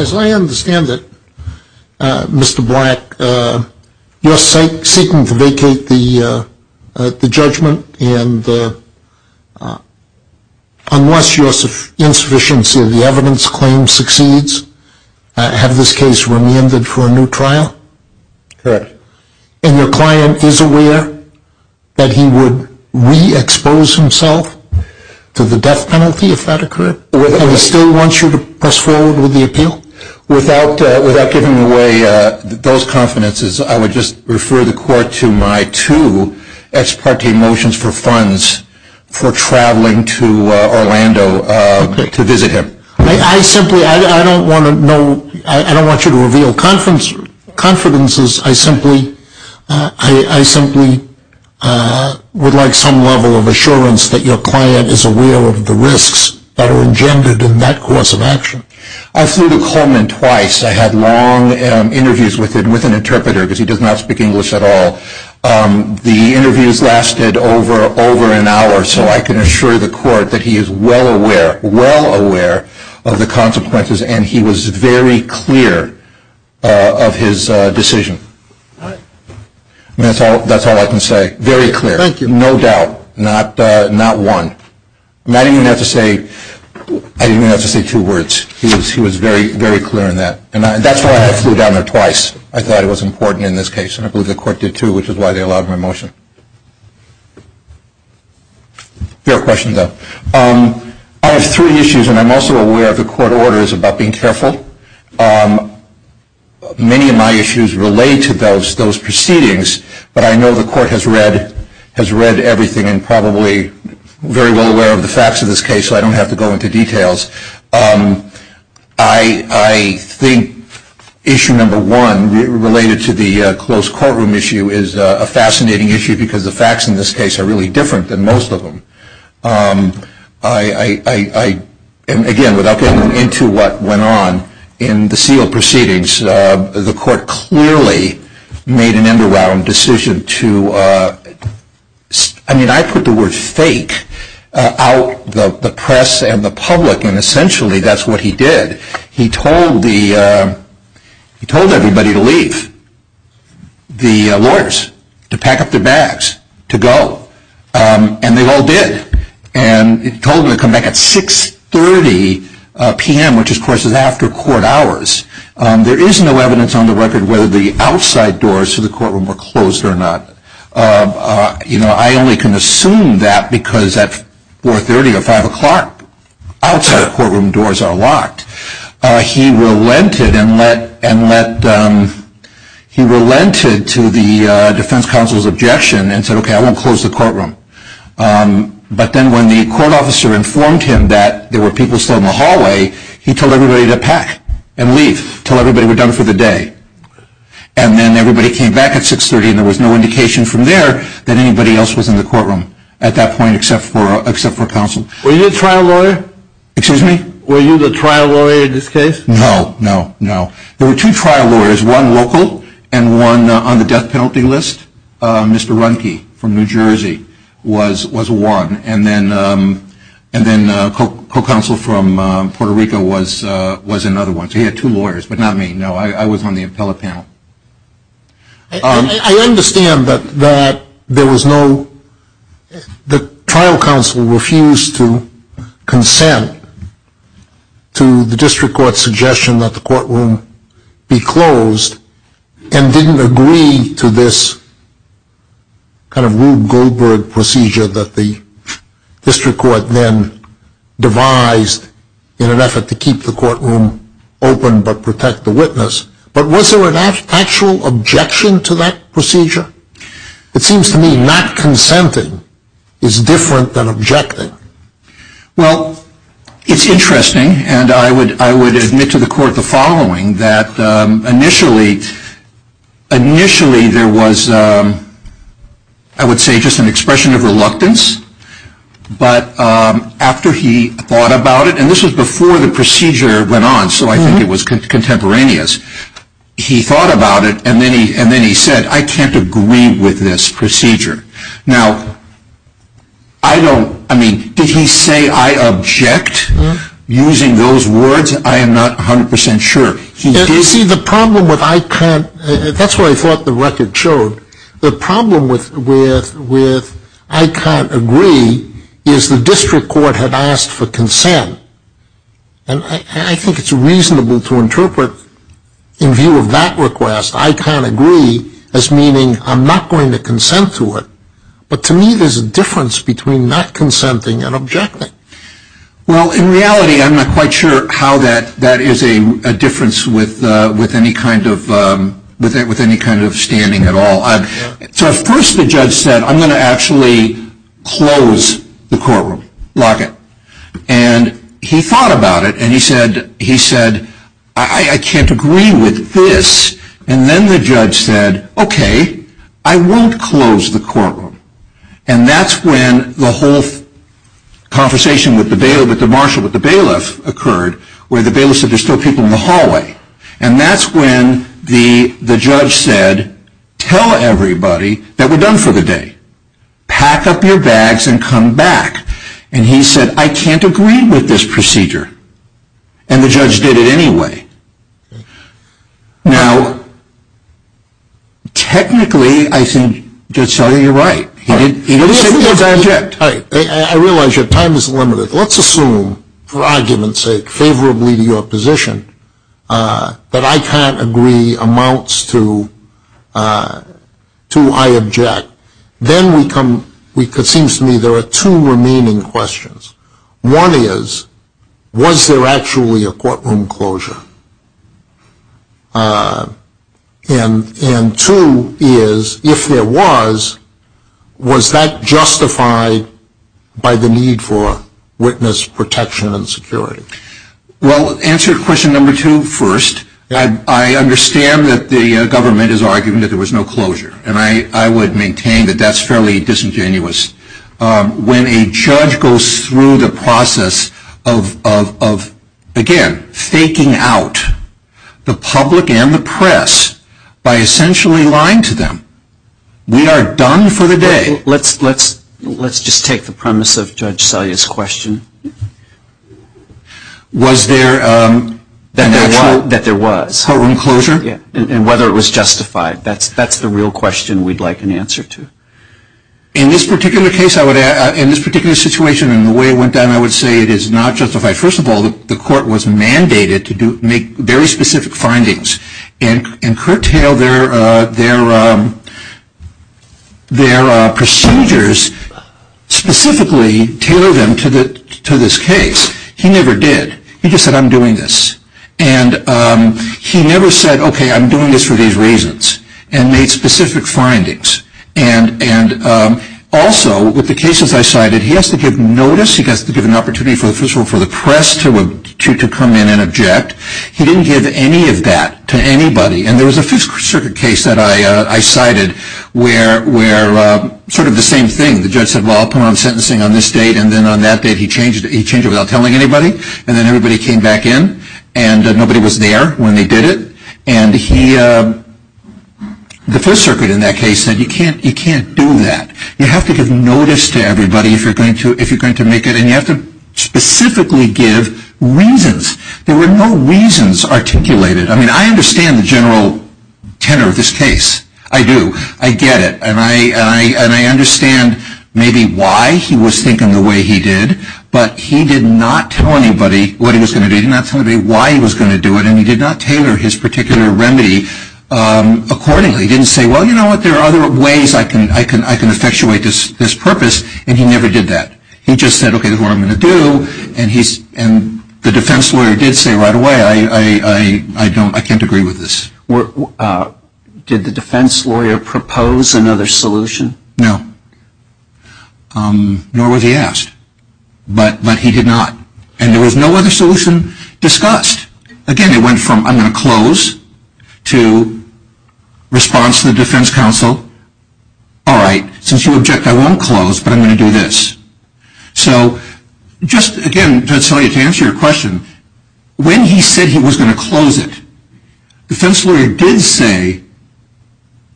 As I understand it, Mr. Black, you are seeking to vacate the judgment, and unless you are insufficiency of the evidence claim succeeds, have this case remanded for a new trial? Correct. And your client is aware that he would re-expose himself to the death penalty if that occurred? Correct. And he still wants you to press forward with the appeal? Without giving away those confidences, I would just refer the court to my two ex parte motions for funds for traveling to Orlando to visit him. I don't want you to reveal confidences. I simply would like some level of assurance that your client is aware of the risks that are engendered in that course of action. I flew to Coleman twice. I had long interviews with an interpreter because he does not speak English at all. The interviews lasted over an hour, so I can assure the court that he is well aware, well aware of the consequences and he was very clear of his decision. That's all I can say. Very clear. No doubt. Not one. I didn't even have to say two words. He was very clear in that. That's why I flew down there twice. I thought it was important in this case, and I believe the court did too, which is why they allowed my motion. Fair question, though. I have three issues, and I'm also aware of the court orders about being careful. Many of my issues relate to those proceedings, but I know the court has read everything and probably very well aware of the facts of this case, so I don't have to go into details. I think issue number one related to the closed courtroom issue is a fascinating issue because the facts in this case are really different than most of them. Again, without getting into what went on in the sealed proceedings, the court clearly made an underwhelming decision to, I mean, I put the word fake out the press and the public, and essentially that's what he did. He told everybody to leave. The lawyers to pack up their bags to go, and they all did. He told them to come back at 6.30 p.m., which courtroom were closed or not. I only can assume that because at 4.30 or 5 o'clock, outside courtroom doors are locked. He relented to the defense counsel's objection and said, okay, I won't close the courtroom. But then when the court officer informed him that there were people still in the hallway, he told everybody to pack and leave, until everybody was done for the day. And then everybody came back at 6.30, and there was no indication from there that anybody else was in the courtroom at that point, except for counsel. Were you a trial lawyer? Excuse me? Were you the trial lawyer in this case? No, no, no. There were two trial lawyers, one local and one on the death penalty list. Mr. Runke from New Jersey was one, and then co-counsel from Puerto Rico was another one. He had two lawyers, but not me. No, I was on the appellate panel. I understand that there was no – the trial counsel refused to consent to the district court's suggestion that the courtroom be closed, and didn't agree to this kind of Rube Goldberg procedure that the district court then devised in an effort to keep the courtroom open, but protect the witness. But was there an actual objection to that procedure? It seems to me not consenting is different than objecting. Well, it's interesting, and I would admit to the court the following, that initially there was, I would say, just an expression of reluctance. But after he thought about it, and this was before the procedure went on, so I think it was contemporaneous, he thought about it, and then he said, I can't agree with this procedure. Now, I don't – I mean, did he say, I object, using those words? I am not 100% sure. See, the problem with I can't – that's what I thought the record showed. The problem with I can't agree is the district court had asked for consent. And I think it's reasonable to interpret, in view of that request, I can't agree as meaning I'm not going to consent to it. But to me, there's a difference between not consenting and objecting. Well, in reality, I'm not quite sure how that is a difference with any kind of standing at all. So first the judge said, I'm going to actually close the courtroom, lock it. And he thought about it, and he said, he said, I can't agree with this. And then the judge said, okay, I won't close the courtroom. And that's when the whole conversation with the bailiff, with the marshal, with the bailiff occurred, where the bailiff said, there's still people in the hallway. And that's when the judge said, tell everybody that we're done for the day. Pack up your bags and come back. And he said, I can't agree with this procedure. And the judge did it anyway. Now, technically, I think Judge Sully, you're right. He didn't say he was going to object. All right. I realize your time is limited. Let's assume, for argument's sake, favorably to your position, that I can't agree amounts to I object. Then it seems to me there are two remaining questions. One is, was there actually a courtroom closure? And two is, if there was, was that justified by the need for witness protection and security? Well, answer question number two first. I understand that the government is arguing that there was no closure. And I would maintain that that's fairly disingenuous. When a judge goes through the process of, again, faking out the public and the press by essentially lying to them, we are done for the day. Let's just take the premise of Judge Sully's question. Was there an actual courtroom closure? That there was. And whether it was justified. That's the real question we'd like an answer to. In this particular case, in this particular situation, and the way it went down, I would say it is not justified. First of all, the court was mandated to make very specific findings and curtail their procedures, specifically tailor them to this case. He never did. He just said, I'm doing this. And he never said, okay, I'm doing this for these reasons. And made specific findings. And also, with the cases I cited, he has to give notice, he has to give an opportunity for the press to come in and object. He didn't give any of that to anybody. And there was a Fifth Circuit case that I cited where sort of the same thing. The judge said, well, I'll put on sentencing on this date. And then on that date, he changed it without telling anybody. And then everybody came back in. And nobody was there when they did it. And the Fifth Circuit in that case said, you can't do that. You have to give notice to specifically give reasons. There were no reasons articulated. I mean, I understand the general tenor of this case. I do. I get it. And I understand maybe why he was thinking the way he did. But he did not tell anybody what he was going to do. He did not tell anybody why he was going to do it. And he did not tailor his particular remedy accordingly. He didn't say, well, you know what, there are other ways I can effectuate this purpose. And he never did that. He just said, okay, this is what I'm going to do. And the defense lawyer did say right away, I can't agree with this. Did the defense lawyer propose another solution? No. Nor was he asked. But he did not. And there was no other solution discussed. Again, it went from, I'm going to close, to response to the defense counsel, all right, since you object, I won't close, but I'm going to do this. So just, again, to answer your question, when he said he was going to close it, the defense lawyer did say,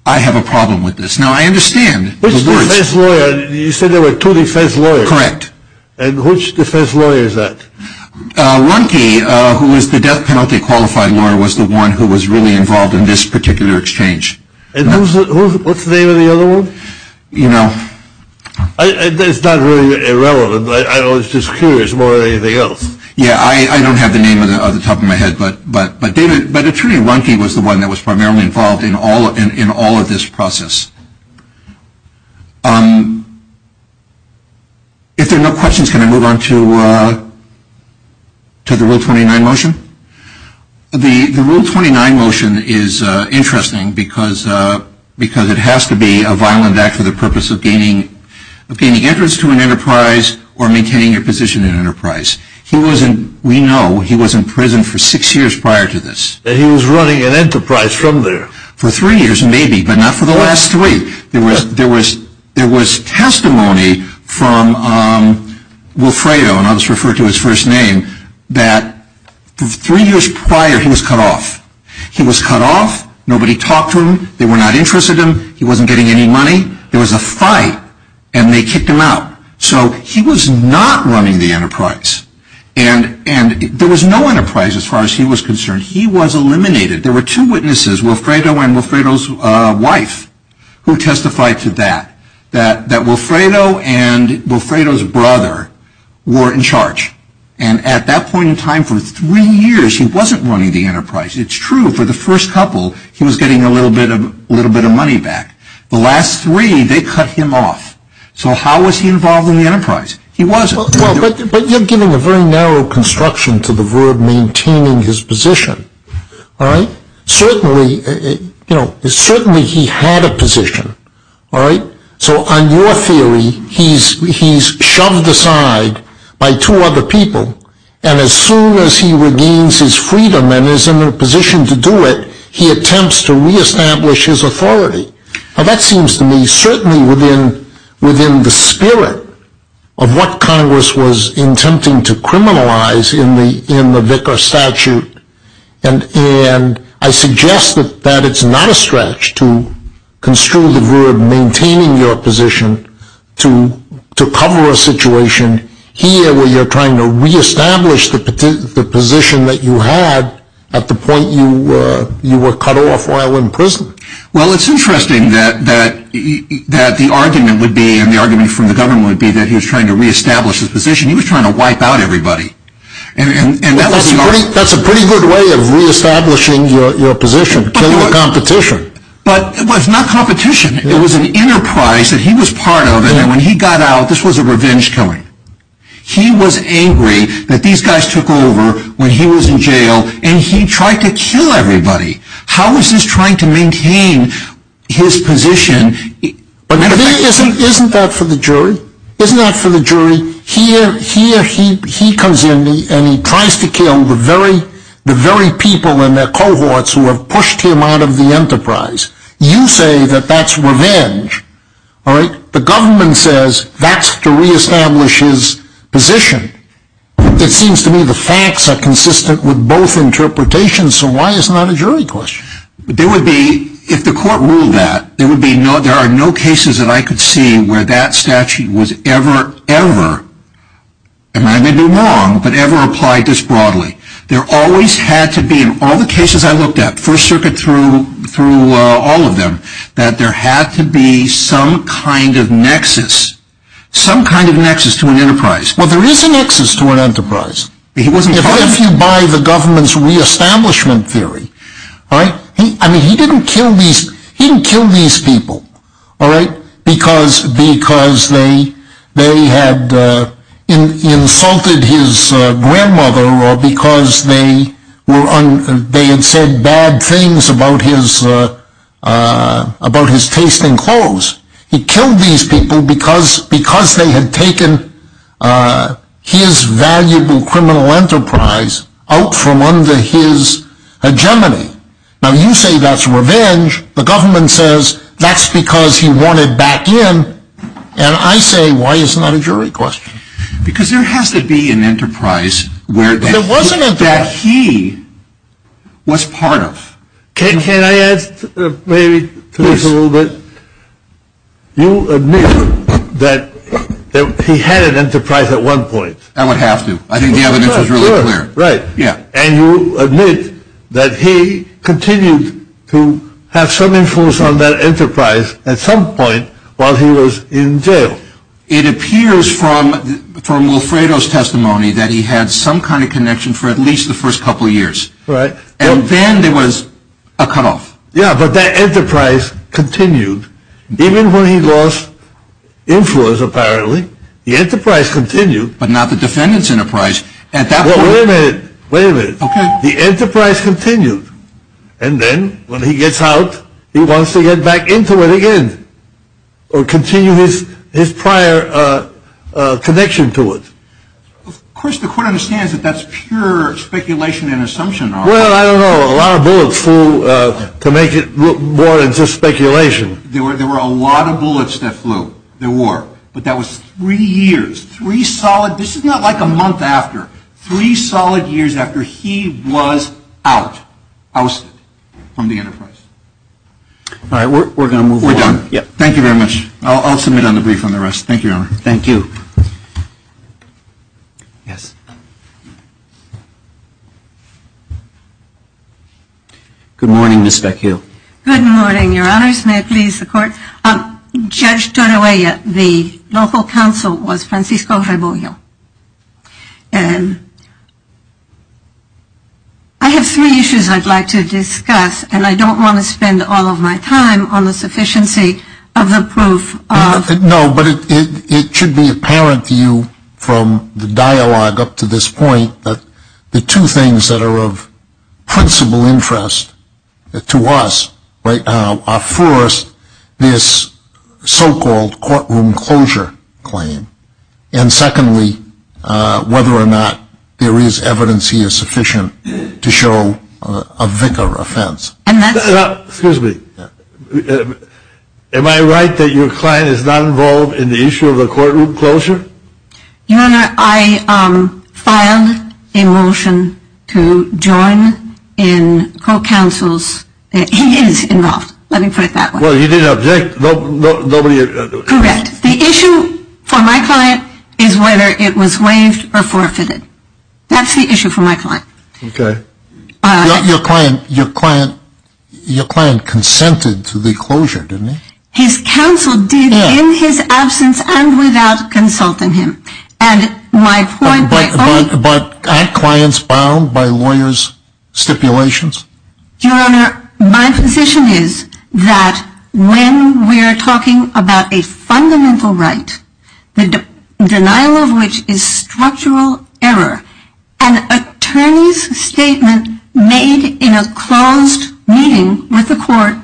I have a problem with this. Now, I understand. Which defense lawyer? You said there were two defense lawyers. Correct. And which defense lawyer is that? Lundke, who was the death penalty qualified lawyer, was the one who was really involved in this particular exchange. And who's, what's the name of the other one? It's not really irrelevant. I was just curious more than anything else. Yeah, I don't have the name off the top of my head, but David, but Attorney Lundke was the one that was primarily involved in all of this process. If there are no questions, can I move on to the Rule 29 motion? The Rule 29 motion is interesting, because it has to be a violent act for the purpose of gaining entrance to an enterprise or maintaining your position in an enterprise. He was in, we know, he was in prison for six years prior to this. And he was running an enterprise from there. For three years, maybe, but not for the last three. There was testimony from Wilfredo, and I'll just refer to his first name, that three years prior he was cut off. He was cut off, nobody talked to him, they were not interested in him, he wasn't getting any money. There was a fight, and they kicked him out. So he was not running the enterprise. And there was no enterprise as far as he was concerned. He was eliminated. There were two witnesses, Wilfredo and Wilfredo's wife, who testified to that. That Wilfredo and Wilfredo's brother were in charge. And at that point in time, for three years, he wasn't running the enterprise. It's true, for the first couple, he was getting a little bit of money back. The last three, they cut him off. So how was he involved in the enterprise? He wasn't. Well, but you're giving a very narrow construction to the verb maintaining his position, alright? Certainly he had a position, alright? So on your theory, he's shoved aside by two other people, and as soon as he regains his freedom and is in a position to do it, he attempts to re-establish his authority. Now that seems to me, certainly within the spirit of what Congress was attempting to criminalize in the Vicar Statute, and I suggest that it's not a stretch to construe the verb maintaining your position to cover a situation here where you're trying to re-establish the position that you had at the point you were cut off while in prison. Well, it's interesting that the argument would be, and the argument from the government would be, that he was trying to re-establish his position. He was trying to wipe out everybody. That's a pretty good way of re-establishing your position, killing the competition. But it was not competition. It was an enterprise that he was part of, and when he got out, this was a revenge killing. He was angry that these guys took over when he was in jail, and he tried to kill everybody. How is this trying to maintain his position? Isn't that for the jury? Isn't that for the jury? Here he comes in and he tries to kill the very people in their cohorts who have pushed him out of the enterprise. You say that that's revenge. The government says that's to re-establish his position. It seems to me the facts are consistent with both interpretations, so why is it not a jury question? If the court ruled that, there are no cases that I could see where that statute was ever, ever, and I may be wrong, but ever applied this broadly. There always had to be, in all the cases I looked at, First Circuit through all of them, that there had to be some kind of nexus. Some kind of nexus to an enterprise. Well, there is a nexus to an enterprise, if you buy the government's re-establishment theory. He didn't kill these people because they had insulted his grandmother, or because they had said bad things about his taste in clothes. He killed these people because they had taken his valuable criminal enterprise out from under his hegemony. Now you say that's revenge, the government says that's because he wanted back in, and I say why is it not a jury question? Because there has to be an enterprise that he was part of. Can I add maybe to this a little bit? You admit that he had an enterprise at one point. I would have to. I think the evidence is really clear. Right. And you admit that he continued to have some influence on that enterprise at some point while he was in jail. It appears from Wilfredo's testimony that he had some kind of connection for at least the first couple of years. Right. And then there was a cutoff. Yeah, but that enterprise continued even when he lost influence apparently. The enterprise continued. But not the defendant's enterprise. Wait a minute, wait a minute. Okay. The enterprise continued, and then when he gets out he wants to get back into it again, or continue his prior connection to it. Of course the court understands that that's pure speculation and assumption. Well, I don't know. A lot of bullets flew to make it look more than just speculation. There were a lot of bullets that flew. There were. But that was three years, three solid, this is not like a month after. Three solid years after he was out, ousted from the enterprise. All right, we're going to move on. We're done. I'll submit a brief on the rest. Thank you, Your Honor. Thank you. Yes. Good morning, Ms. Beck-Hill. Good morning, Your Honors. May it please the Court. Judge Torrella, the local counsel was Francisco Rebollo. I have three issues I'd like to discuss, and I don't want to spend all of my time on the sufficiency of the proof. No, but it should be apparent to you from the dialogue up to this point that the two things that are of principal interest to us right now are first, this so-called courtroom closure claim, and secondly, whether or not there is evidence here sufficient to show a vicar offense. Excuse me. Am I right that your client is not involved in the issue of the courtroom closure? Your Honor, I filed a motion to join in co-counsel's, he is involved, let me put it that way. Well, you didn't object, nobody objected. Correct. The issue for my client is whether it was waived or forfeited. That's the issue for my client. Okay. Your client consented to the closure, didn't he? His counsel did in his absence and without consulting him. But aren't clients bound by lawyers' stipulations? Your Honor, my position is that when we're talking about a fundamental right, the denial of which is structural error, an attorney's statement made in a closed meeting with the court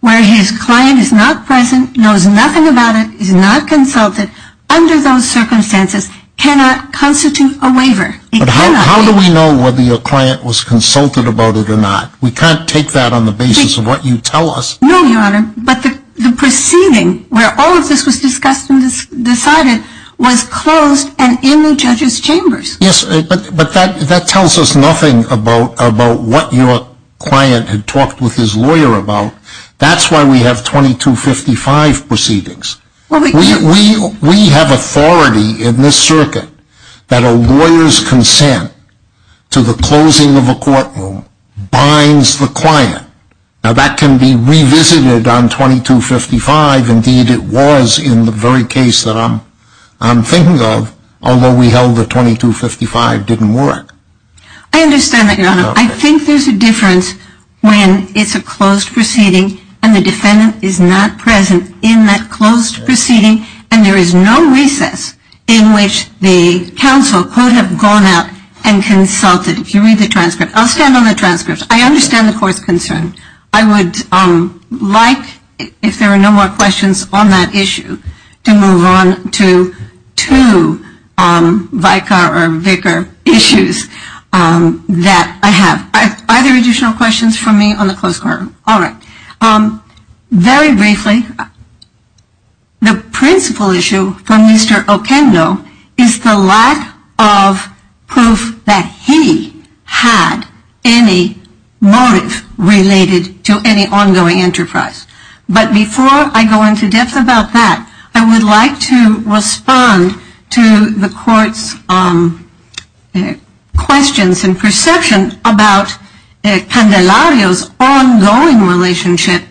where his client is not present, knows nothing about it, is not consulted under those circumstances cannot constitute a waiver. But how do we know whether your client was consulted about it or not? We can't take that on the basis of what you tell us. No, Your Honor, but the proceeding where all of this was discussed and decided was closed and in the judge's chambers. Yes, but that tells us nothing about what your client had talked with his lawyer about. That's why we have 2255 proceedings. We have authority in this circuit that a lawyer's consent to the closing of a courtroom binds the client. Now, that can be revisited on 2255. Indeed, it was in the very case that I'm thinking of, although we held that 2255 didn't work. I understand that, Your Honor. I think there's a difference when it's a closed proceeding and the defendant is not present in that closed proceeding and there is no recess in which the counsel could have gone out and consulted. If you read the transcript, I'll stand on the transcript. I understand the court's concern. I would like, if there are no more questions on that issue, to move on to two vicar or vicar issues that I have. Are there additional questions for me on the closed court? All right. Very briefly, the principal issue for Mr. Oquendo is the lack of proof that he had any motive related to any ongoing enterprise. But before I go into depth about that, I would like to respond to the court's questions and perception about Candelario's ongoing relationship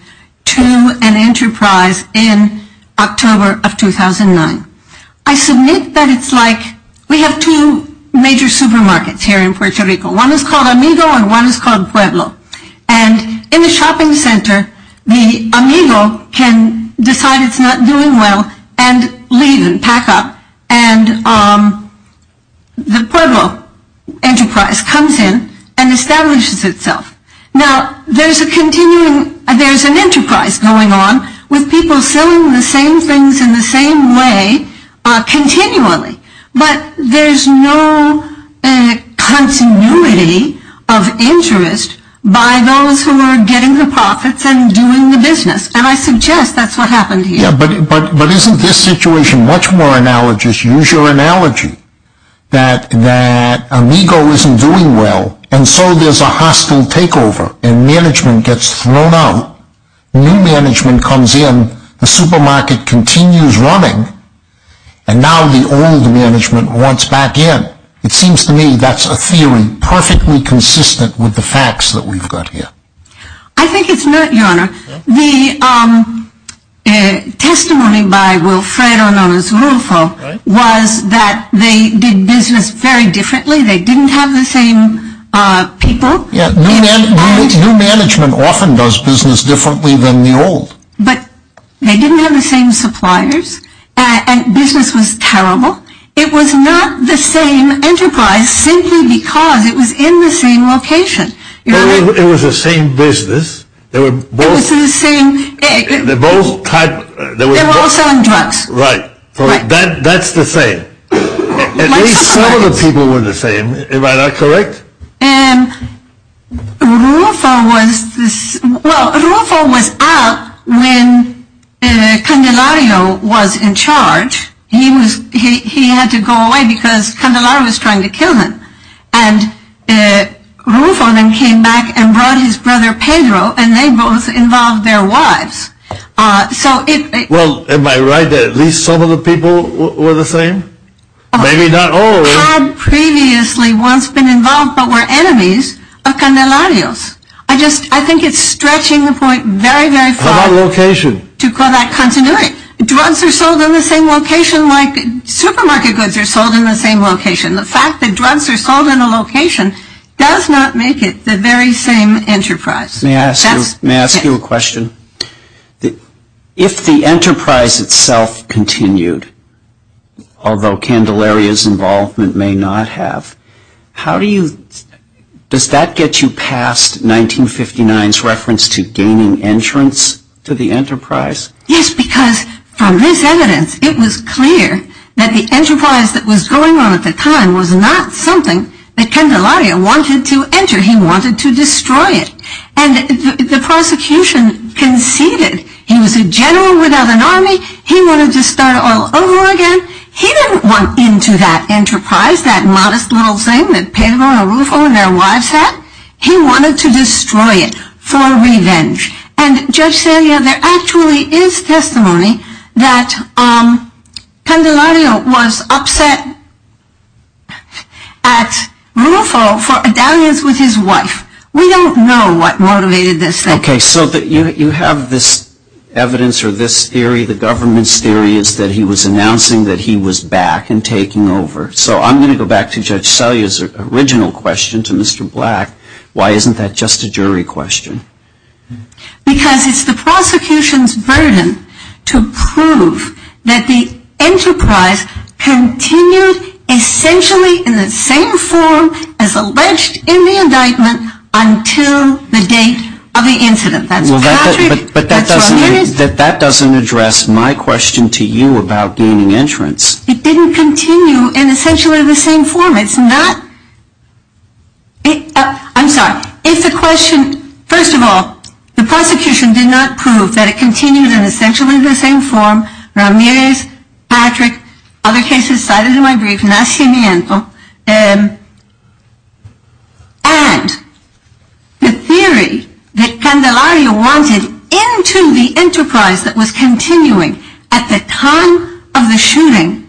to an enterprise in October of 2009. I submit that it's like we have two major supermarkets here in Puerto Rico. One is called Amigo and one is called Pueblo. And in the shopping center, the Amigo can decide it's not doing well and leave and pack up. And the Pueblo enterprise comes in and establishes itself. Now, there's a continuing, there's an enterprise going on with people selling the same things in the same way continually. But there's no continuity of interest by those who are getting the profits and doing the business. And I suggest that's what happened here. But isn't this situation much more analogous? Use your analogy that Amigo isn't doing well and so there's a hostile takeover and management gets thrown out. New management comes in. The supermarket continues running. And now the old management wants back in. It seems to me that's a theory perfectly consistent with the facts that we've got here. I think it's not, Your Honor. The testimony by Wilfredo Nunez-Rulfo was that they did business very differently. They didn't have the same people. Yeah, new management often does business differently than the old. But they didn't have the same suppliers and business was terrible. It was not the same enterprise simply because it was in the same location. It was the same business. They were both selling drugs. Right. That's the same. At least some of the people were the same. Am I not correct? Rulfo was out when Candelario was in charge. He had to go away because Candelario was trying to kill him. And Rulfo then came back and brought his brother Pedro and they both involved their wives. Well, am I right that at least some of the people were the same? Maybe not all of them. They had previously once been involved but were enemies of Candelario's. I think it's stretching the point very, very far to call that continuity. Drugs are sold in the same location like supermarket goods are sold in the same location. The fact that drugs are sold in a location does not make it the very same enterprise. May I ask you a question? If the enterprise itself continued, although Candelario's involvement may not have, does that get you past 1959's reference to gaining entrance to the enterprise? Yes, because from this evidence it was clear that the enterprise that was going on at the time was not something that Candelario wanted to enter. He wanted to destroy it. And the prosecution conceded. He was a general without an army. He wanted to start all over again. He didn't want into that enterprise, that modest little thing that Pedro and Rulfo and their wives had. He wanted to destroy it for revenge. And Judge Celia, there actually is testimony that Candelario was upset at Rulfo for a dalliance with his wife. We don't know what motivated this. Okay, so you have this evidence or this theory, the government's theory, is that he was announcing that he was back and taking over. So I'm going to go back to Judge Celia's original question to Mr. Black. Why isn't that just a jury question? Because it's the prosecution's burden to prove that the enterprise continued essentially in the same form as alleged in the indictment until the date of the incident. But that doesn't address my question to you about gaining entrance. It didn't continue in essentially the same form. I'm sorry. If the question, first of all, the prosecution did not prove that it continued in essentially the same form, Ramirez, Patrick, other cases cited in my brief, Nacimiento, and the theory that Candelario wanted into the enterprise that was continuing at the time of the shooting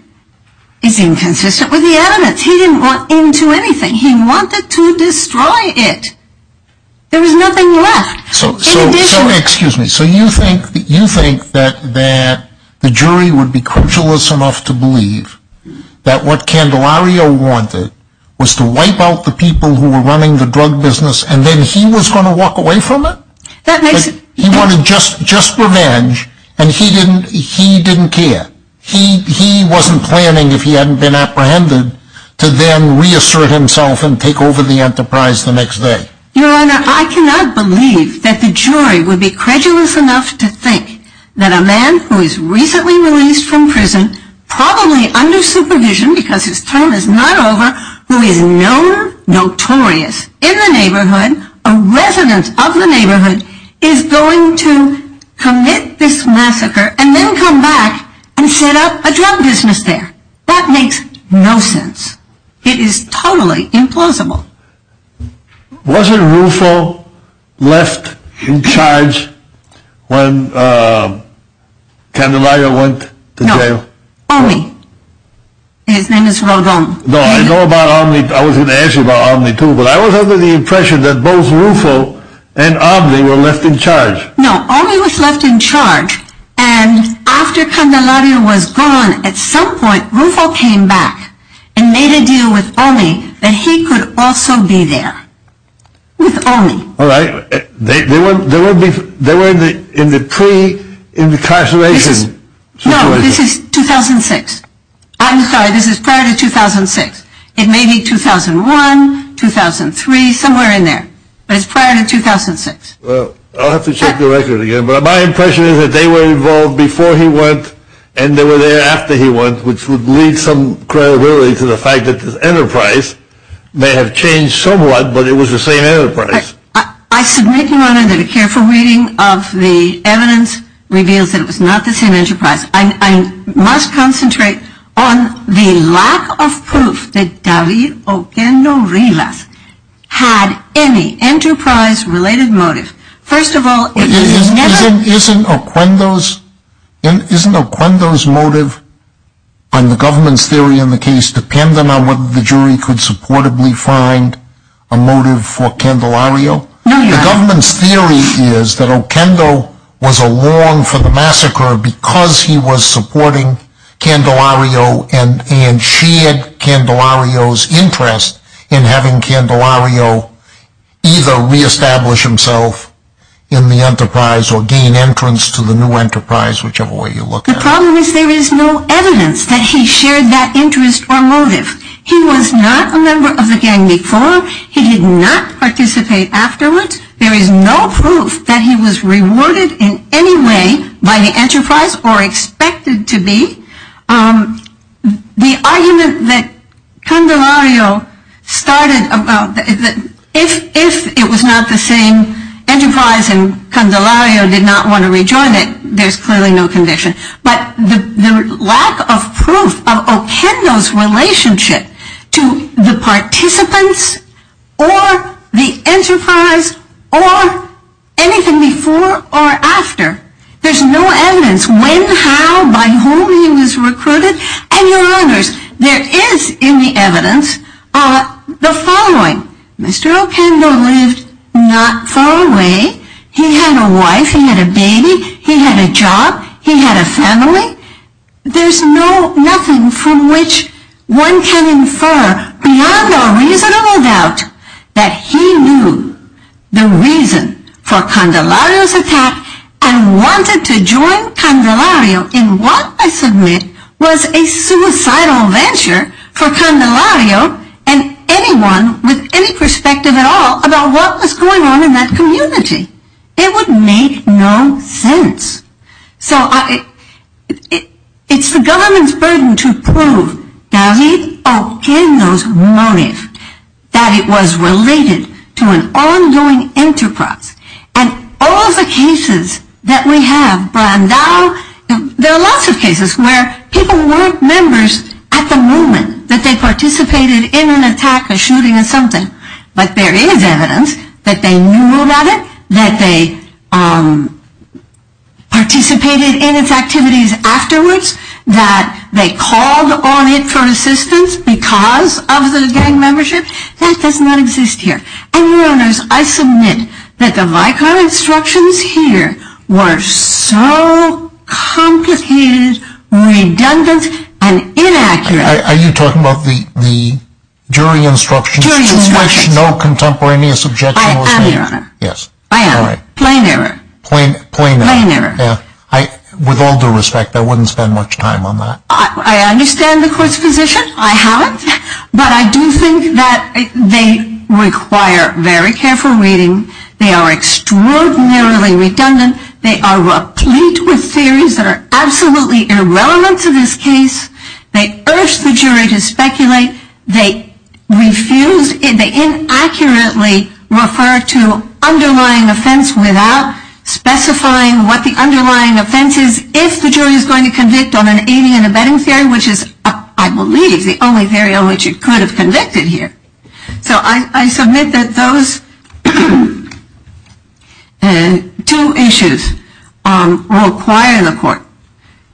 is inconsistent with the evidence. He didn't want into anything. He wanted to destroy it. There was nothing left. So you think that the jury would be credulous enough to believe that what Candelario wanted was to wipe out the people who were running the drug business and then he was going to walk away from it? He wanted just revenge and he didn't care. He wasn't planning, if he hadn't been apprehended, to then reassert himself and take over the enterprise the next day. Your Honor, I cannot believe that the jury would be credulous enough to think that a man who is recently released from prison, probably under supervision because his term is not over, who is known notorious in the neighborhood, a resident of the neighborhood, is going to commit this massacre and then come back and set up a drug business there. That makes no sense. It is totally implausible. Wasn't Rufo left in charge when Candelario went to jail? No. Omi. His name is Rodon. No, I know about Omni. I was going to ask you about Omni too, but I was under the impression that both Rufo and Omni were left in charge. No, Omni was left in charge and after Candelario was gone, at some point Rufo came back and made a deal with Omni that he could also be there with Omni. All right. They were in the pre-incarceration situation. No, this is 2006. I'm sorry, this is prior to 2006. It may be 2001, 2003, somewhere in there, but it's prior to 2006. Well, I'll have to check the record again, but my impression is that they were involved before he went and they were there after he went, which would lead some credibility to the fact that the enterprise may have changed somewhat, but it was the same enterprise. I submit, Your Honor, that a careful reading of the evidence reveals that it was not the same enterprise. I must concentrate on the lack of proof that David Oquendo Rivas had any enterprise-related motive. Isn't Oquendo's motive on the government's theory in the case dependent on whether the jury could supportably find a motive for Candelario? No, Your Honor. The government's theory is that Oquendo was along for the massacre because he was supporting Candelario and shared Candelario's interest in having Candelario either reestablish himself in the enterprise or gain entrance to the new enterprise, whichever way you look at it. The problem is there is no evidence that he shared that interest or motive. He was not a member of the gang before. He did not participate afterwards. There is no proof that he was rewarded in any way by the enterprise or expected to be. The argument that Candelario started, if it was not the same enterprise and Candelario did not want to rejoin it, there's clearly no conviction. But the lack of proof of Oquendo's relationship to the participants or the enterprise or anything before or after, there's no evidence when, how, by whom he was recruited. And, Your Honors, there is in the evidence the following. Mr. Oquendo lived not far away. He had a wife. He had a baby. He had a job. He had a family. There's nothing from which one can infer beyond a reasonable doubt that he knew the reason for Candelario's attack and wanted to join Candelario in what I submit was a suicidal venture for Candelario and anyone with any perspective at all about what was going on in that community. It would make no sense. So it's the government's burden to prove David Oquendo's motive, that it was related to an ongoing enterprise. And all of the cases that we have, Brandao, there are lots of cases where people weren't members at the moment, that they participated in an attack or shooting or something. But there is evidence that they knew about it, that they participated in its activities afterwards, that they called on it for assistance because of the gang membership. That does not exist here. And, Your Honors, I submit that the Vicar instructions here were so complicated, redundant, and inaccurate. Are you talking about the jury instructions? Jury instructions. Which no contemporaneous objection was made. I am, Your Honor. Yes. I am. Plain error. Plain error. Plain error. With all due respect, I wouldn't spend much time on that. I understand the Court's position. I haven't. But I do think that they require very careful reading. They are extraordinarily redundant. They are replete with theories that are absolutely irrelevant to this case. They urge the jury to speculate. They refuse, they inaccurately refer to underlying offense without specifying what the underlying offense is. If the jury is going to convict on an aiding and abetting theory, which is, I believe, the only theory on which it could have convicted here. So I submit that those two issues require the Court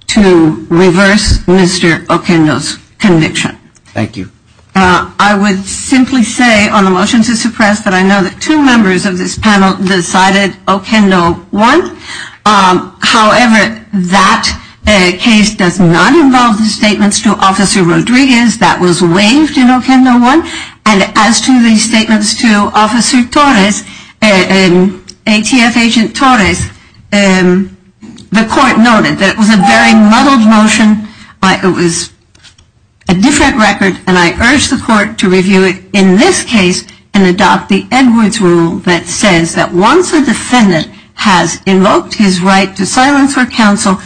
to reverse Mr. Okendo's conviction. Thank you. I would simply say on the motion to suppress that I know that two members of this panel decided Okendo won. However, that case does not involve the statements to Officer Rodriguez that was waived in Okendo won. And as to the statements to Officer Torres, ATF Agent Torres, the Court noted that it was a very muddled motion. It was a different record. And I urge the Court to review it in this case and adopt the Edwards rule that says that once a defendant has invoked his right to silence or counsel,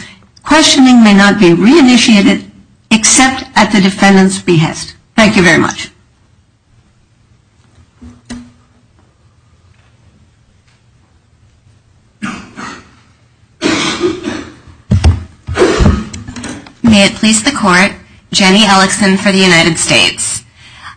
questioning may not be reinitiated except at the defendant's behest. Thank you very much. May it please the Court. Jenny Ellison for the United States.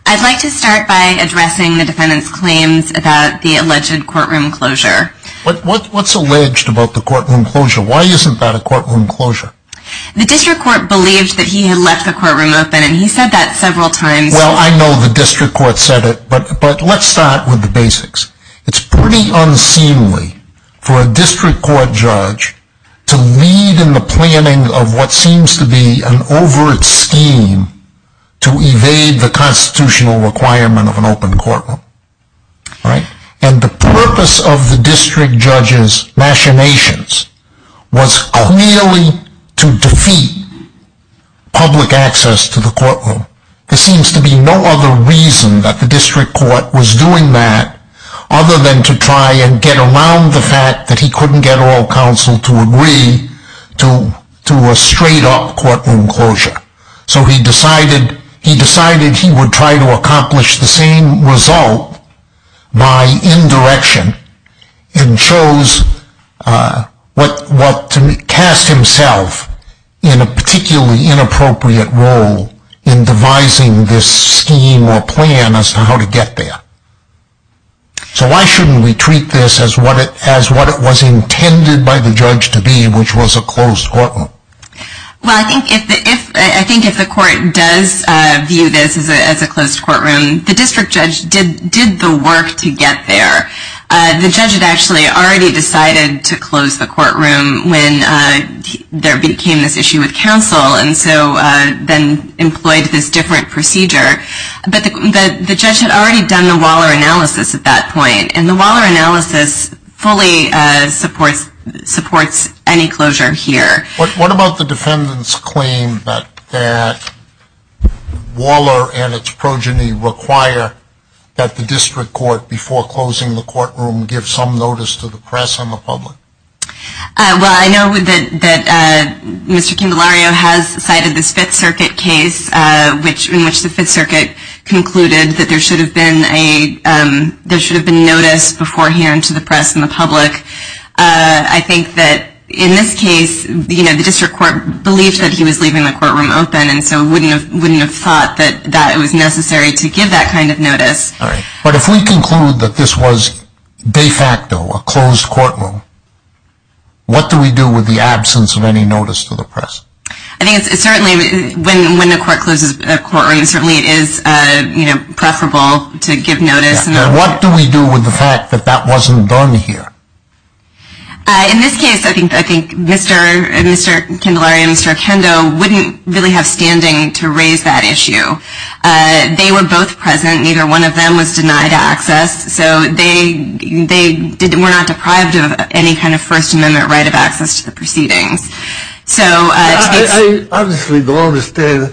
I'd like to start by addressing the defendant's claims about the alleged courtroom closure. What's alleged about the courtroom closure? Why isn't that a courtroom closure? The District Court believed that he had left the courtroom open and he said that several times. Well, I know the District Court said it, but let's start with the basics. It's pretty unseemly for a District Court judge to lead in the planning of what seems to be an overt scheme to evade the constitutional requirement of an open courtroom. And the purpose of the District Judge's machinations was clearly to defeat public access to the courtroom. There seems to be no other reason that the District Court was doing that other than to try and get around the fact that he couldn't get all counsel to agree to a straight-up courtroom closure. So he decided he would try to accomplish the same result by indirection and chose to cast himself in a particularly inappropriate role in devising this scheme or plan as to how to get there. So why shouldn't we treat this as what it was intended by the judge to be, which was a closed courtroom? Well, I think if the court does view this as a closed courtroom, the District Judge did the work to get there. The judge had actually already decided to close the courtroom when there became this issue with counsel and so then employed this different procedure. But the judge had already done the Waller analysis at that point, and the Waller analysis fully supports any closure here. What about the defendant's claim that Waller and its progeny require that the District Court, before closing the courtroom, give some notice to the press and the public? Well, I know that Mr. Candelario has cited this Fifth Circuit case in which the Fifth Circuit concluded that there should have been notice beforehand to the press and the public. I think that in this case, the District Court believed that he was leaving the courtroom open and so wouldn't have thought that it was necessary to give that kind of notice. But if we conclude that this was de facto a closed courtroom, what do we do with the absence of any notice to the press? I think certainly when a court closes a courtroom, it is preferable to give notice. And what do we do with the fact that that wasn't done here? In this case, I think Mr. Candelario and Mr. Acendo wouldn't really have standing to raise that issue. They were both present. Neither one of them was denied access. So they were not deprived of any kind of First Amendment right of access to the proceedings. I obviously don't understand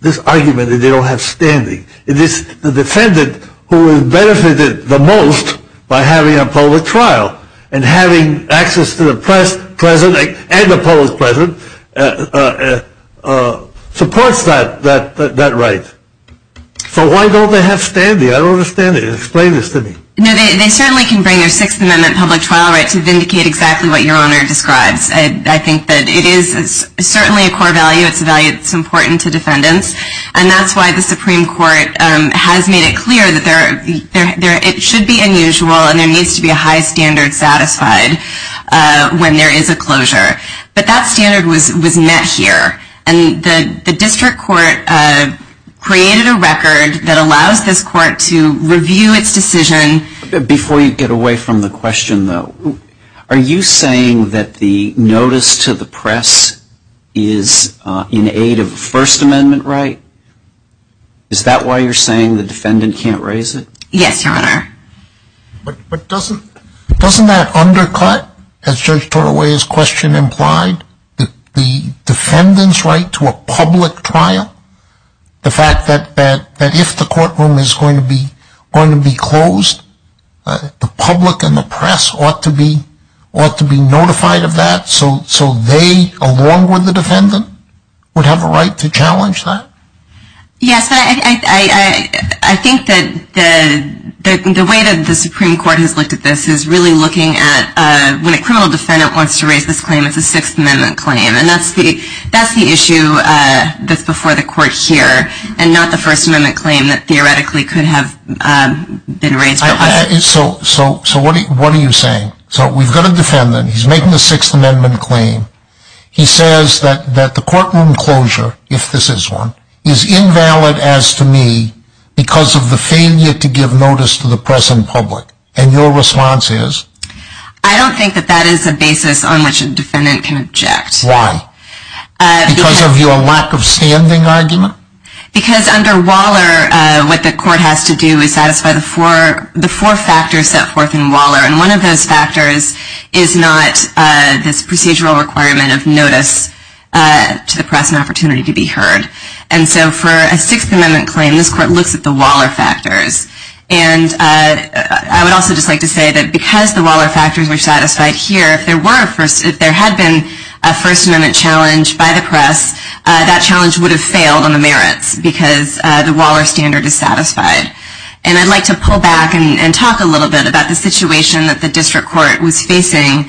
this argument that they don't have standing. It is the defendant who has benefited the most by having a public trial. And having access to the press present and the public present supports that right. So why don't they have standing? I don't understand it. Explain this to me. They certainly can bring their Sixth Amendment public trial right to vindicate exactly what Your Honor describes. I think that it is certainly a core value. It's important to defendants. And that's why the Supreme Court has made it clear that it should be unusual and there needs to be a high standard satisfied when there is a closure. But that standard was met here. And the district court created a record that allows this court to review its decision. Before you get away from the question though, are you saying that the notice to the press is in aid of a First Amendment right? Is that why you're saying the defendant can't raise it? Yes, Your Honor. But doesn't that undercut, as Judge Tortoway's question implied, the defendant's right to a public trial? The fact that if the courtroom is going to be closed, the public and the press ought to be notified of that. So they, along with the defendant, would have a right to challenge that? Yes, but I think that the way that the Supreme Court has looked at this is really looking at when a criminal defendant wants to raise this claim, it's a Sixth Amendment claim. And that's the issue that's before the court here and not the First Amendment claim that theoretically could have been raised. So what are you saying? So we've got a defendant. He's making a Sixth Amendment claim. He says that the courtroom closure, if this is one, is invalid as to me because of the failure to give notice to the press and public. And your response is? I don't think that that is a basis on which a defendant can object. Why? Because of your lack of standing argument? Because under Waller, what the court has to do is satisfy the four factors set forth in Waller. And one of those factors is not this procedural requirement of notice to the press and opportunity to be heard. And so for a Sixth Amendment claim, this court looks at the Waller factors. And I would also just like to say that because the Waller factors were satisfied here, if there had been a First Amendment challenge by the press, that challenge would have failed on the merits because the Waller standard is satisfied. And I'd like to pull back and talk a little bit about the situation that the district court was facing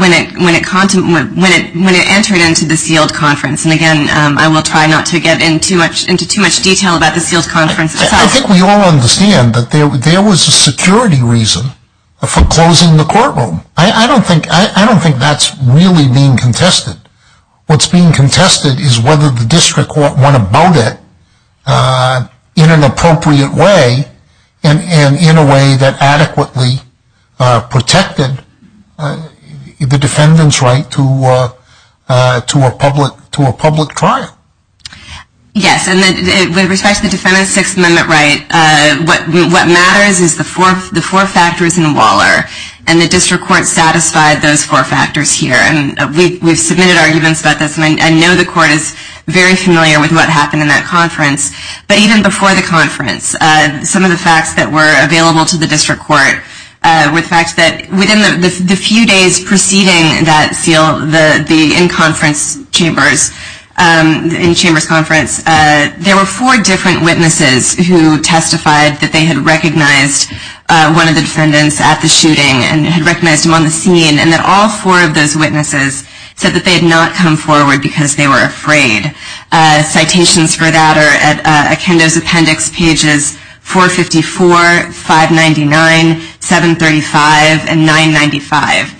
when it entered into the sealed conference. And again, I will try not to get into too much detail about the sealed conference itself. I think we all understand that there was a security reason for closing the courtroom. I don't think that's really being contested. What's being contested is whether the district court went about it in an appropriate way and in a way that adequately protected the defendant's right to a public trial. Yes, and with respect to the defendant's Sixth Amendment right, what matters is the four factors in Waller and the district court satisfied those four factors here. And we've submitted arguments about this. And I know the court is very familiar with what happened in that conference. But even before the conference, some of the facts that were available to the district court were the fact that within the few days preceding that seal, the in-conference chambers, the in-chambers conference, there were four different witnesses who testified that they had recognized one of the defendants at the shooting and had recognized him on the scene and that all four of those witnesses said that they had not come forward because they were afraid. Citations for that are at Akendo's appendix pages 454, 599, 735, and 995.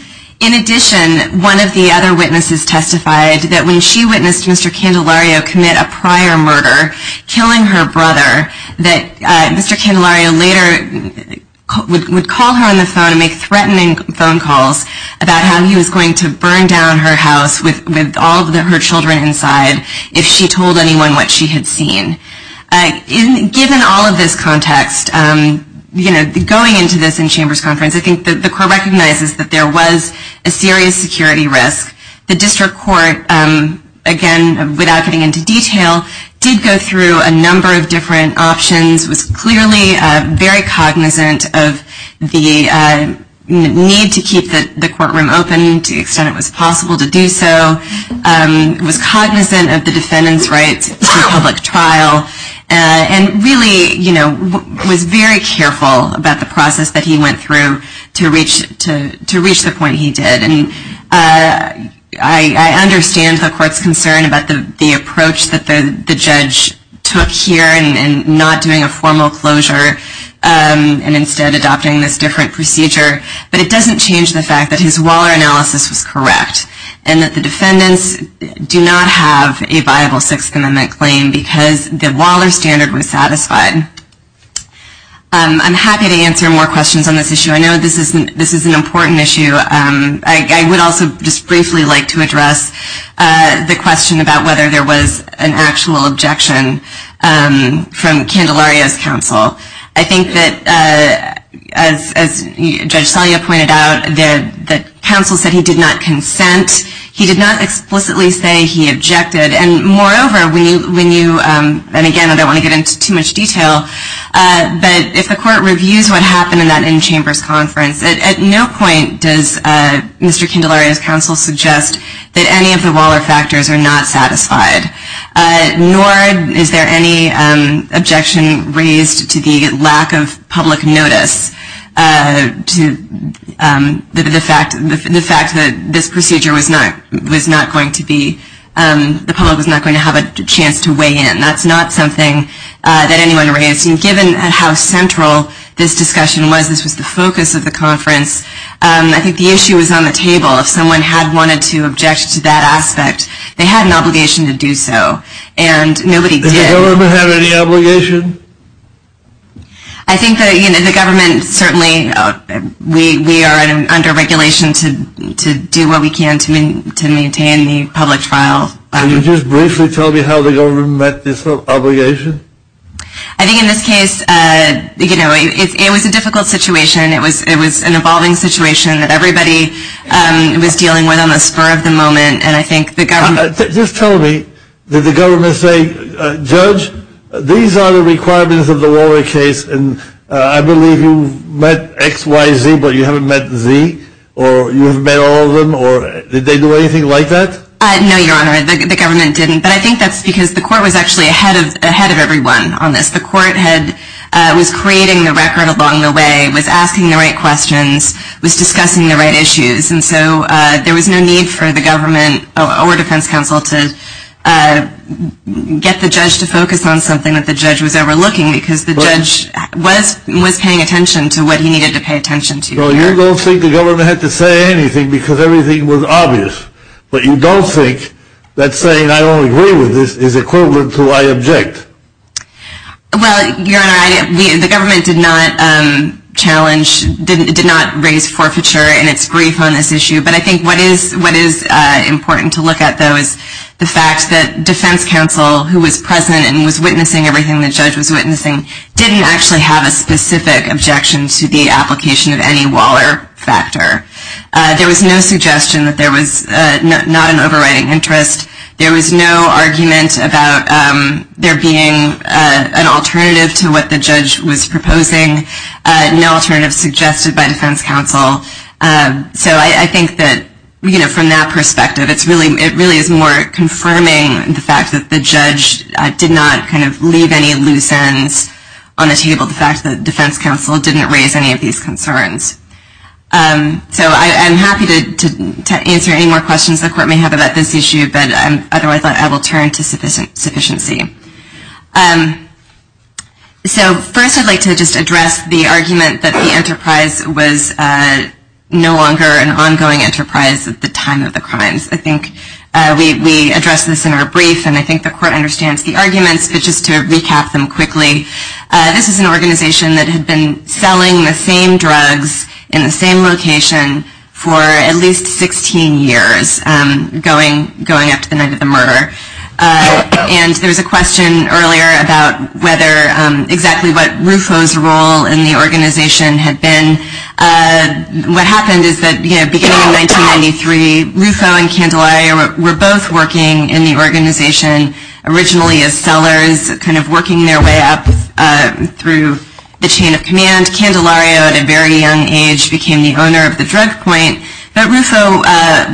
In addition, one of the other witnesses testified that when she witnessed Mr. Candelario commit a prior murder, killing her brother, that Mr. Candelario later would call her on the phone and make threatening phone calls about how he was going to burn down her house with all of her children inside if she told anyone what she had seen. Given all of this context, going into this in-chambers conference, I think the court recognizes that there was a serious security risk. The district court, again, without getting into detail, did go through a number of different options, was clearly very cognizant of the need to keep the courtroom open to the extent it was possible to do so, was cognizant of the defendant's rights to a public trial, and really was very careful about the process that he went through to reach the point he did. I understand the court's concern about the approach that the judge took here in not doing a formal closure and instead adopting this different procedure, but it doesn't change the fact that his Waller analysis was correct and that the defendants do not have a viable Sixth Amendment claim because the Waller standard was satisfied. I'm happy to answer more questions on this issue. I know this is an important issue. I would also just briefly like to address the question about whether there was an actual objection from Candelario's counsel. I think that, as Judge Salia pointed out, the counsel said he did not consent. He did not explicitly say he objected. And moreover, when you, and again, I don't want to get into too much detail, but if the court reviews what happened in that in-chambers conference, at no point does Mr. Candelario's counsel suggest that any of the Waller factors are not satisfied, nor is there any objection raised to the lack of public notice, to the fact that this procedure was not going to be, the public was not going to have a chance to weigh in. That's not something that anyone raised. And given how central this discussion was, this was the focus of the conference, I think the issue was on the table. If someone had wanted to object to that aspect, they had an obligation to do so. And nobody did. Did the government have any obligation? I think that the government certainly, we are under regulation to do what we can to maintain the public trial. Can you just briefly tell me how the government met this obligation? I think in this case, you know, it was a difficult situation. It was an evolving situation that everybody was dealing with on the spur of the moment, and I think the government. Just tell me, did the government say, Judge, these are the requirements of the Waller case, and I believe you met X, Y, Z, but you haven't met Z, or you haven't met all of them, or did they do anything like that? No, Your Honor, the government didn't. But I think that's because the court was actually ahead of everyone on this. The court was creating the record along the way, was asking the right questions, was discussing the right issues, and so there was no need for the government or defense counsel to get the judge to focus on something that the judge was overlooking because the judge was paying attention to what he needed to pay attention to. So you don't think the government had to say anything because everything was obvious, but you don't think that saying I don't agree with this is equivalent to I object. Well, Your Honor, the government did not challenge, did not raise forfeiture in its brief on this issue, but I think what is important to look at, though, is the fact that defense counsel, who was present and was witnessing everything the judge was witnessing, didn't actually have a specific objection to the application of any Waller factor. There was no suggestion that there was not an overriding interest. There was no argument about there being an alternative to what the judge was proposing, no alternative suggested by defense counsel. So I think that from that perspective, it really is more confirming the fact that the judge did not leave any loose ends on the table, the fact that defense counsel didn't raise any of these concerns. So I'm happy to answer any more questions the court may have about this issue, but otherwise I will turn to sufficiency. So first I'd like to just address the argument that the enterprise was no longer an ongoing enterprise at the time of the crimes. I think we addressed this in our brief, and I think the court understands the arguments, but just to recap them quickly, this is an organization that had been selling the same drugs in the same location for at least 16 years going up to the night of the murder. And there was a question earlier about whether exactly what Rufo's role in the organization had been. What happened is that beginning in 1993, Rufo and Candelaria were both working in the organization originally as sellers, kind of working their way up through the chain of command. Candelaria at a very young age became the owner of the drug point, but Rufo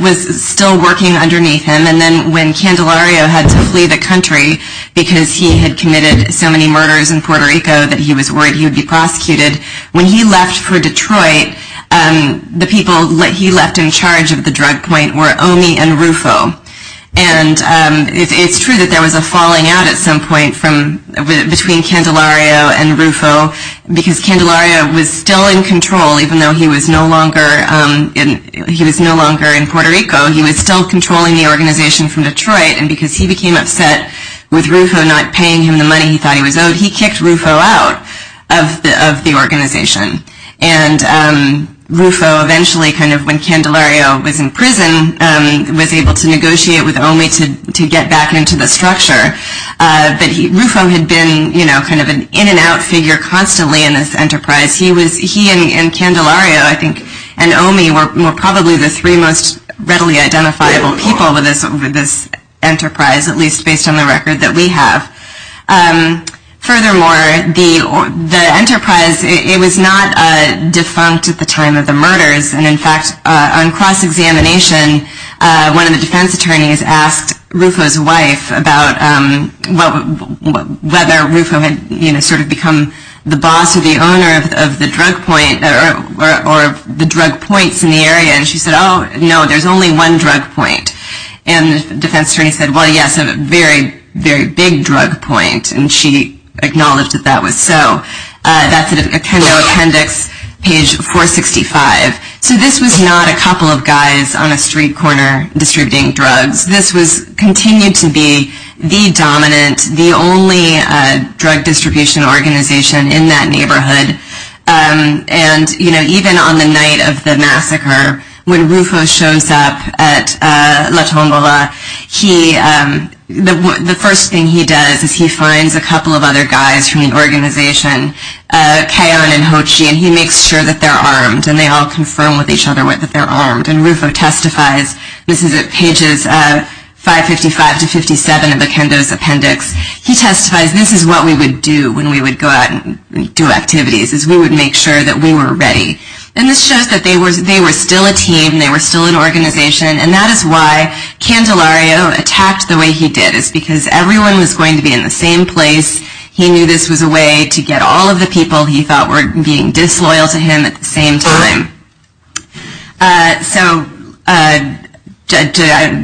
was still working underneath him. And then when Candelaria had to flee the country because he had committed so many murders in Puerto Rico that he was worried he would be prosecuted, when he left for Detroit, the people he left in charge of the drug point were Omi and Rufo. And it's true that there was a falling out at some point between Candelaria and Rufo because Candelaria was still in control, even though he was no longer in Puerto Rico. He was still controlling the organization from Detroit, and because he became upset with Rufo not paying him the money he thought he was owed, he kicked Rufo out of the organization. And Rufo eventually, kind of when Candelaria was in prison, was able to negotiate with Omi to get back into the structure. But Rufo had been kind of an in-and-out figure constantly in this enterprise. He and Candelaria, I think, and Omi were probably the three most readily identifiable people with this enterprise, at least based on the record that we have. Furthermore, the enterprise, it was not defunct at the time of the murders. And in fact, on cross-examination, one of the defense attorneys asked Rufo's wife about whether Rufo had sort of become the boss or the owner of the drug point, or the drug points in the area. And she said, oh, no, there's only one drug point. And the defense attorney said, well, yes, a very, very big drug point. And she acknowledged that that was so. That's in the appendix, page 465. So this was not a couple of guys on a street corner distributing drugs. This continued to be the dominant, the only drug distribution organization in that neighborhood. And even on the night of the massacre, when Rufo shows up at La Tombola, the first thing he does is he finds a couple of other guys from the organization, Kayon and Hochi, and he makes sure that they're armed. And they all confirm with each other that they're armed. And Rufo testifies. This is at pages 555 to 57 of the Kendo's appendix. He testifies, this is what we would do when we would go out and do activities, is we would make sure that we were ready. And this shows that they were still a team. They were still an organization. And that is why Candelario attacked the way he did, is because everyone was going to be in the same place. He knew this was a way to get all of the people he thought were being disloyal to him at the same time. So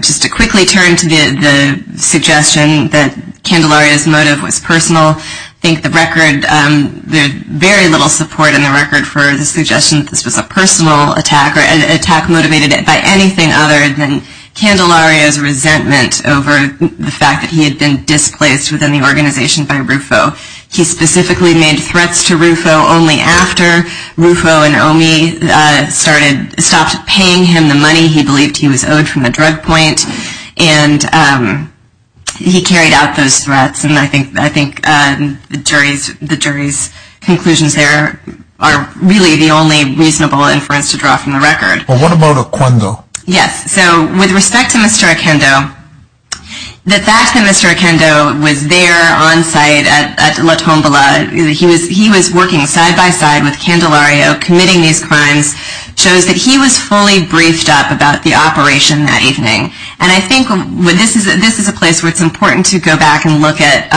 just to quickly turn to the suggestion that Candelario's motive was personal, I think there's very little support in the record for the suggestion that this was a personal attack or an attack motivated by anything other than Candelario's resentment over the fact that he had been displaced within the organization by Rufo. He specifically made threats to Rufo only after Rufo and Omi stopped paying him the money he believed he was owed from the drug point. And he carried out those threats. And I think the jury's conclusions there are really the only reasonable inference to draw from the record. But what about Oquendo? Yes. So with respect to Mr. Oquendo, the fact that Mr. Oquendo was there on site at La Tombola, he was working side by side with Candelario committing these crimes, shows that he was fully briefed up about the operation that evening. And I think this is a place where it's important to go back and look at.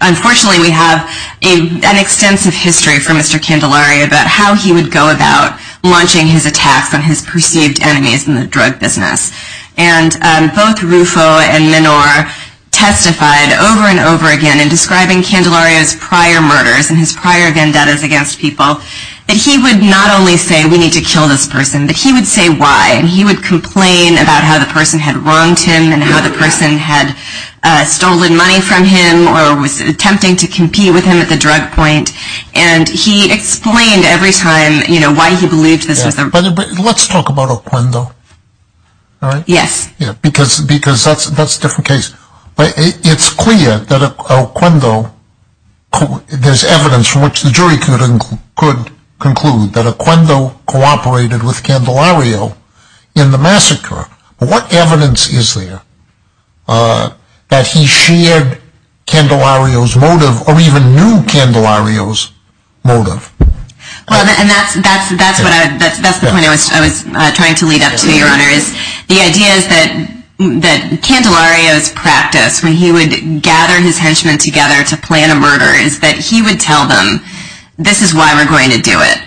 Unfortunately, we have an extensive history from Mr. Candelario about how he would go about launching his attacks on his perceived enemies in the drug business. And both Rufo and Menor testified over and over again in describing Candelario's prior murders and his prior vendettas against people that he would not only say, we need to kill this person, but he would say why. And he would complain about how the person had wronged him and how the person had stolen money from him or was attempting to compete with him at the drug point. And he explained every time, you know, why he believed this was a… But let's talk about Oquendo, all right? Yes. Because that's a different case. It's clear that Oquendo, there's evidence from which the jury could conclude that Oquendo cooperated with Candelario in the massacre. What evidence is there that he shared Candelario's motive or even knew Candelario's motive? Well, and that's the point I was trying to lead up to, Your Honor, is the idea is that Candelario's practice when he would gather his henchmen together to plan a murder is that he would tell them, this is why we're going to do it.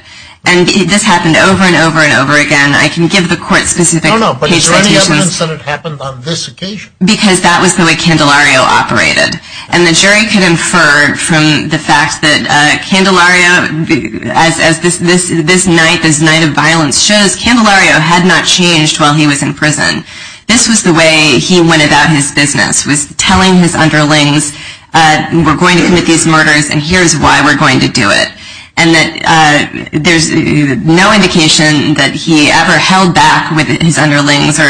And this happened over and over and over again. I can give the court specific… No, no, but is there any evidence that it happened on this occasion? Because that was the way Candelario operated. And the jury could infer from the fact that Candelario, as this night of violence shows, Candelario had not changed while he was in prison. This was the way he went about his business, was telling his underlings, we're going to commit these murders and here's why we're going to do it. And that there's no indication that he ever held back with his underlings or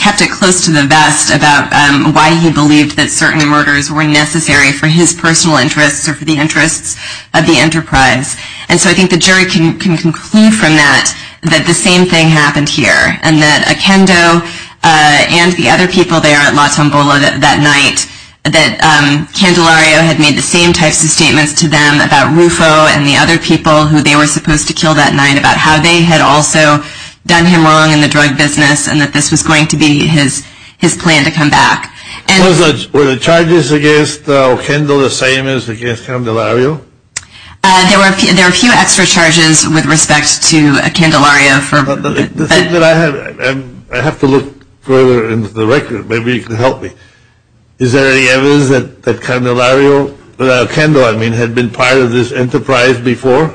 kept it close to the vest about why he believed that certain murders were necessary for his personal interests or for the interests of the enterprise. And so I think the jury can conclude from that that the same thing happened here and that Akendo and the other people there at La Tombola that night, that Candelario had made the same types of statements to them about Rufo and the other people who they were supposed to kill that night, about how they had also done him wrong in the drug business and that this was going to be his plan to come back. Were the charges against Akendo the same as against Candelario? There were a few extra charges with respect to Candelario. I have to look further into the record. Maybe you can help me. Is there any evidence that Candelario, that Akendo, I mean, had been part of this enterprise before?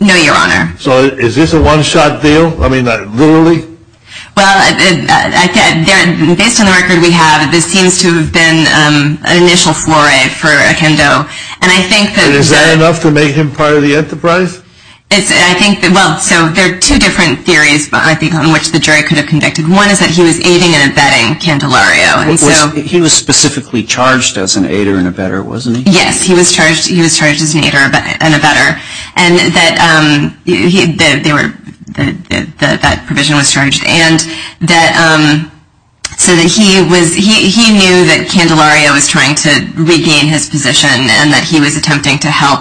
No, Your Honor. So is this a one-shot deal? I mean, literally? Well, based on the record we have, this seems to have been an initial foray for Akendo. And is that enough to make him part of the enterprise? Well, so there are two different theories on which the jury could have convicted. One is that he was aiding and abetting Candelario. He was specifically charged as an aider and abetter, wasn't he? Yes, he was charged as an aider and abetter. And that provision was charged. And he knew that Candelario was trying to regain his position and that he was attempting to help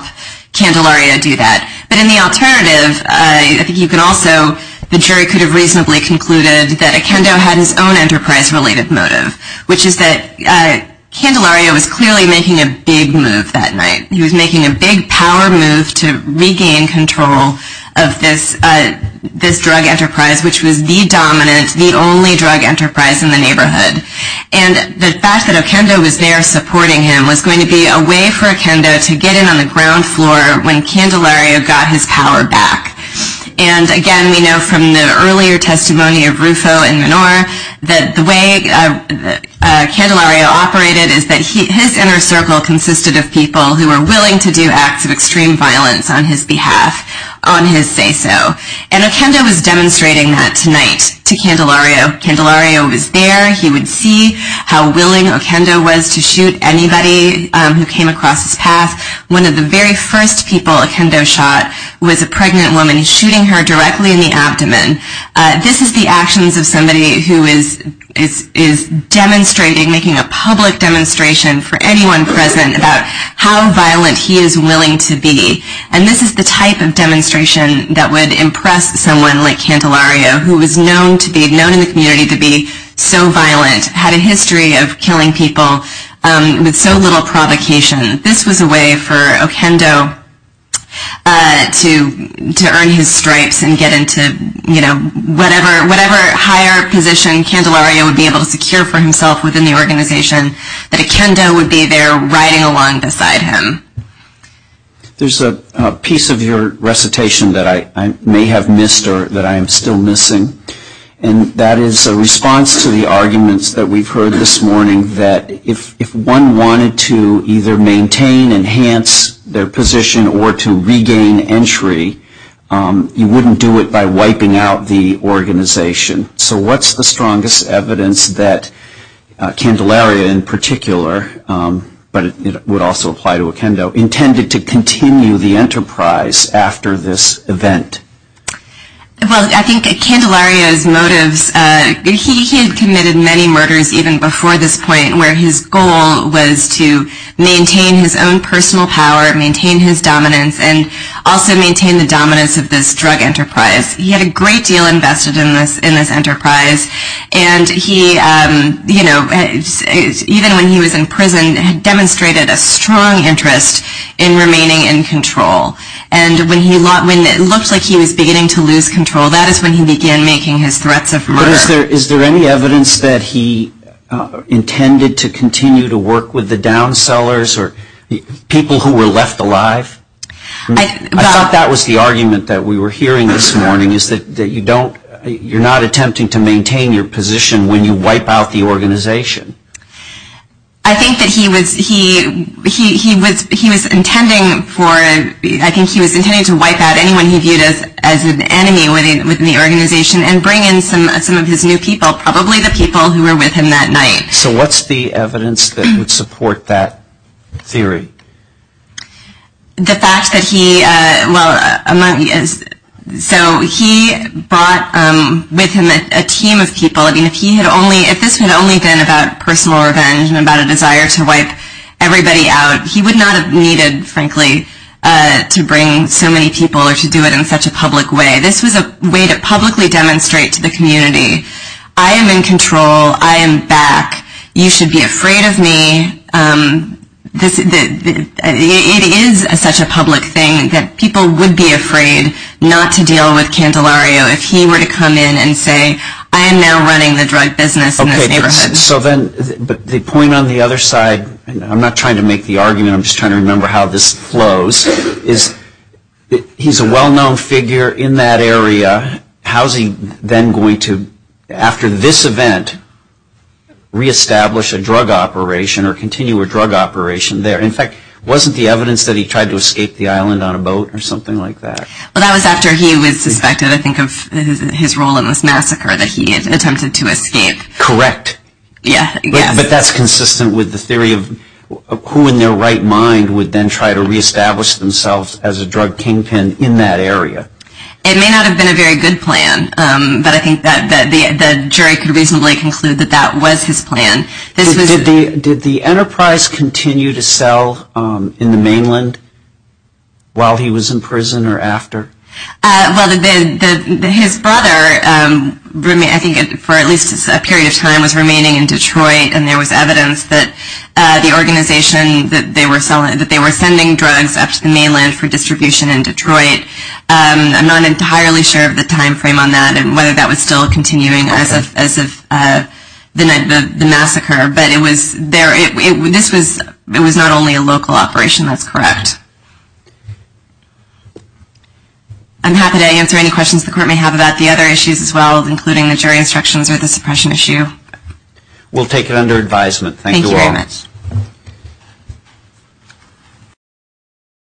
Candelario do that. But in the alternative, I think you could also, the jury could have reasonably concluded that Akendo had his own enterprise-related motive, which is that Candelario was clearly making a big move that night. He was making a big power move to regain control of this drug enterprise, which was the dominant, the only drug enterprise in the neighborhood. And the fact that Akendo was there supporting him was going to be a way for Akendo to get in on the ground floor when Candelario got his power back. And again, we know from the earlier testimony of Rufo and Menor that the way Candelario operated is that his inner circle consisted of people who were willing to do acts of extreme violence on his behalf, on his say-so. And Akendo was demonstrating that tonight to Candelario. Candelario was there. He would see how willing Akendo was to shoot anybody who came across his path. One of the very first people Akendo shot was a pregnant woman shooting her directly in the abdomen. This is the actions of somebody who is demonstrating, making a public demonstration for anyone present about how violent he is willing to be. And this is the type of demonstration that would impress someone like Candelario, who was known in the community to be so violent, had a history of killing people with so little provocation. This was a way for Akendo to earn his stripes and get into whatever higher position Candelario would be able to secure for himself within the organization, that Akendo would be there riding along beside him. There's a piece of your recitation that I may have missed or that I am still missing. And that is a response to the arguments that we've heard this morning that if one wanted to either maintain, enhance their position, or to regain entry, you wouldn't do it by wiping out the organization. So what's the strongest evidence that Candelario in particular, but it would also apply to Akendo, intended to continue the enterprise after this event? Well, I think Candelario's motives, he had committed many murders even before this point where his goal was to maintain his own personal power, maintain his dominance, and also maintain the dominance of this drug enterprise. He had a great deal invested in this enterprise. And he, you know, even when he was in prison, demonstrated a strong interest in remaining in control. And when it looked like he was beginning to lose control, that is when he began making his threats of murder. But is there any evidence that he intended to continue to work with the downsellers or people who were left alive? I thought that was the argument that we were hearing this morning, is that you don't, you're not attempting to maintain your position when you wipe out the organization. I think that he was, he was intending for, I think he was intending to wipe out anyone he viewed as an enemy within the organization and bring in some of his new people, probably the people who were with him that night. So what's the evidence that would support that theory? The fact that he, well, so he brought with him a team of people. I mean, if he had only, if this had only been about personal revenge and about a desire to wipe everybody out, he would not have needed, frankly, to bring so many people or to do it in such a public way. This was a way to publicly demonstrate to the community, I am in control, I am back, you should be afraid of me. It is such a public thing that people would be afraid not to deal with Candelario if he were to come in and say, I am now running the drug business in this neighborhood. So then, but the point on the other side, I'm not trying to make the argument, I'm just trying to remember how this flows, is he's a well-known figure in that area. How's he then going to, after this event, reestablish a drug operation or continue a drug operation there? In fact, wasn't the evidence that he tried to escape the island on a boat or something like that? Well, that was after he was suspected, I think, of his role in this massacre that he attempted to escape. Correct. Yeah. But that's consistent with the theory of who in their right mind would then try to reestablish themselves as a drug kingpin in that area. It may not have been a very good plan, but I think that the jury could reasonably conclude that that was his plan. Did the Enterprise continue to sell in the mainland while he was in prison or after? Well, his brother, I think for at least a period of time, was remaining in Detroit and there was evidence that the organization, that they were sending drugs up to the mainland for distribution in Detroit. I'm not entirely sure of the timeframe on that and whether that was still continuing as of the night of the massacre, but it was not only a local operation. That's correct. I'm happy to answer any questions the Court may have about the other issues as well, including the jury instructions or the suppression issue. We'll take it under advisement. Thank you all. Thank you very much.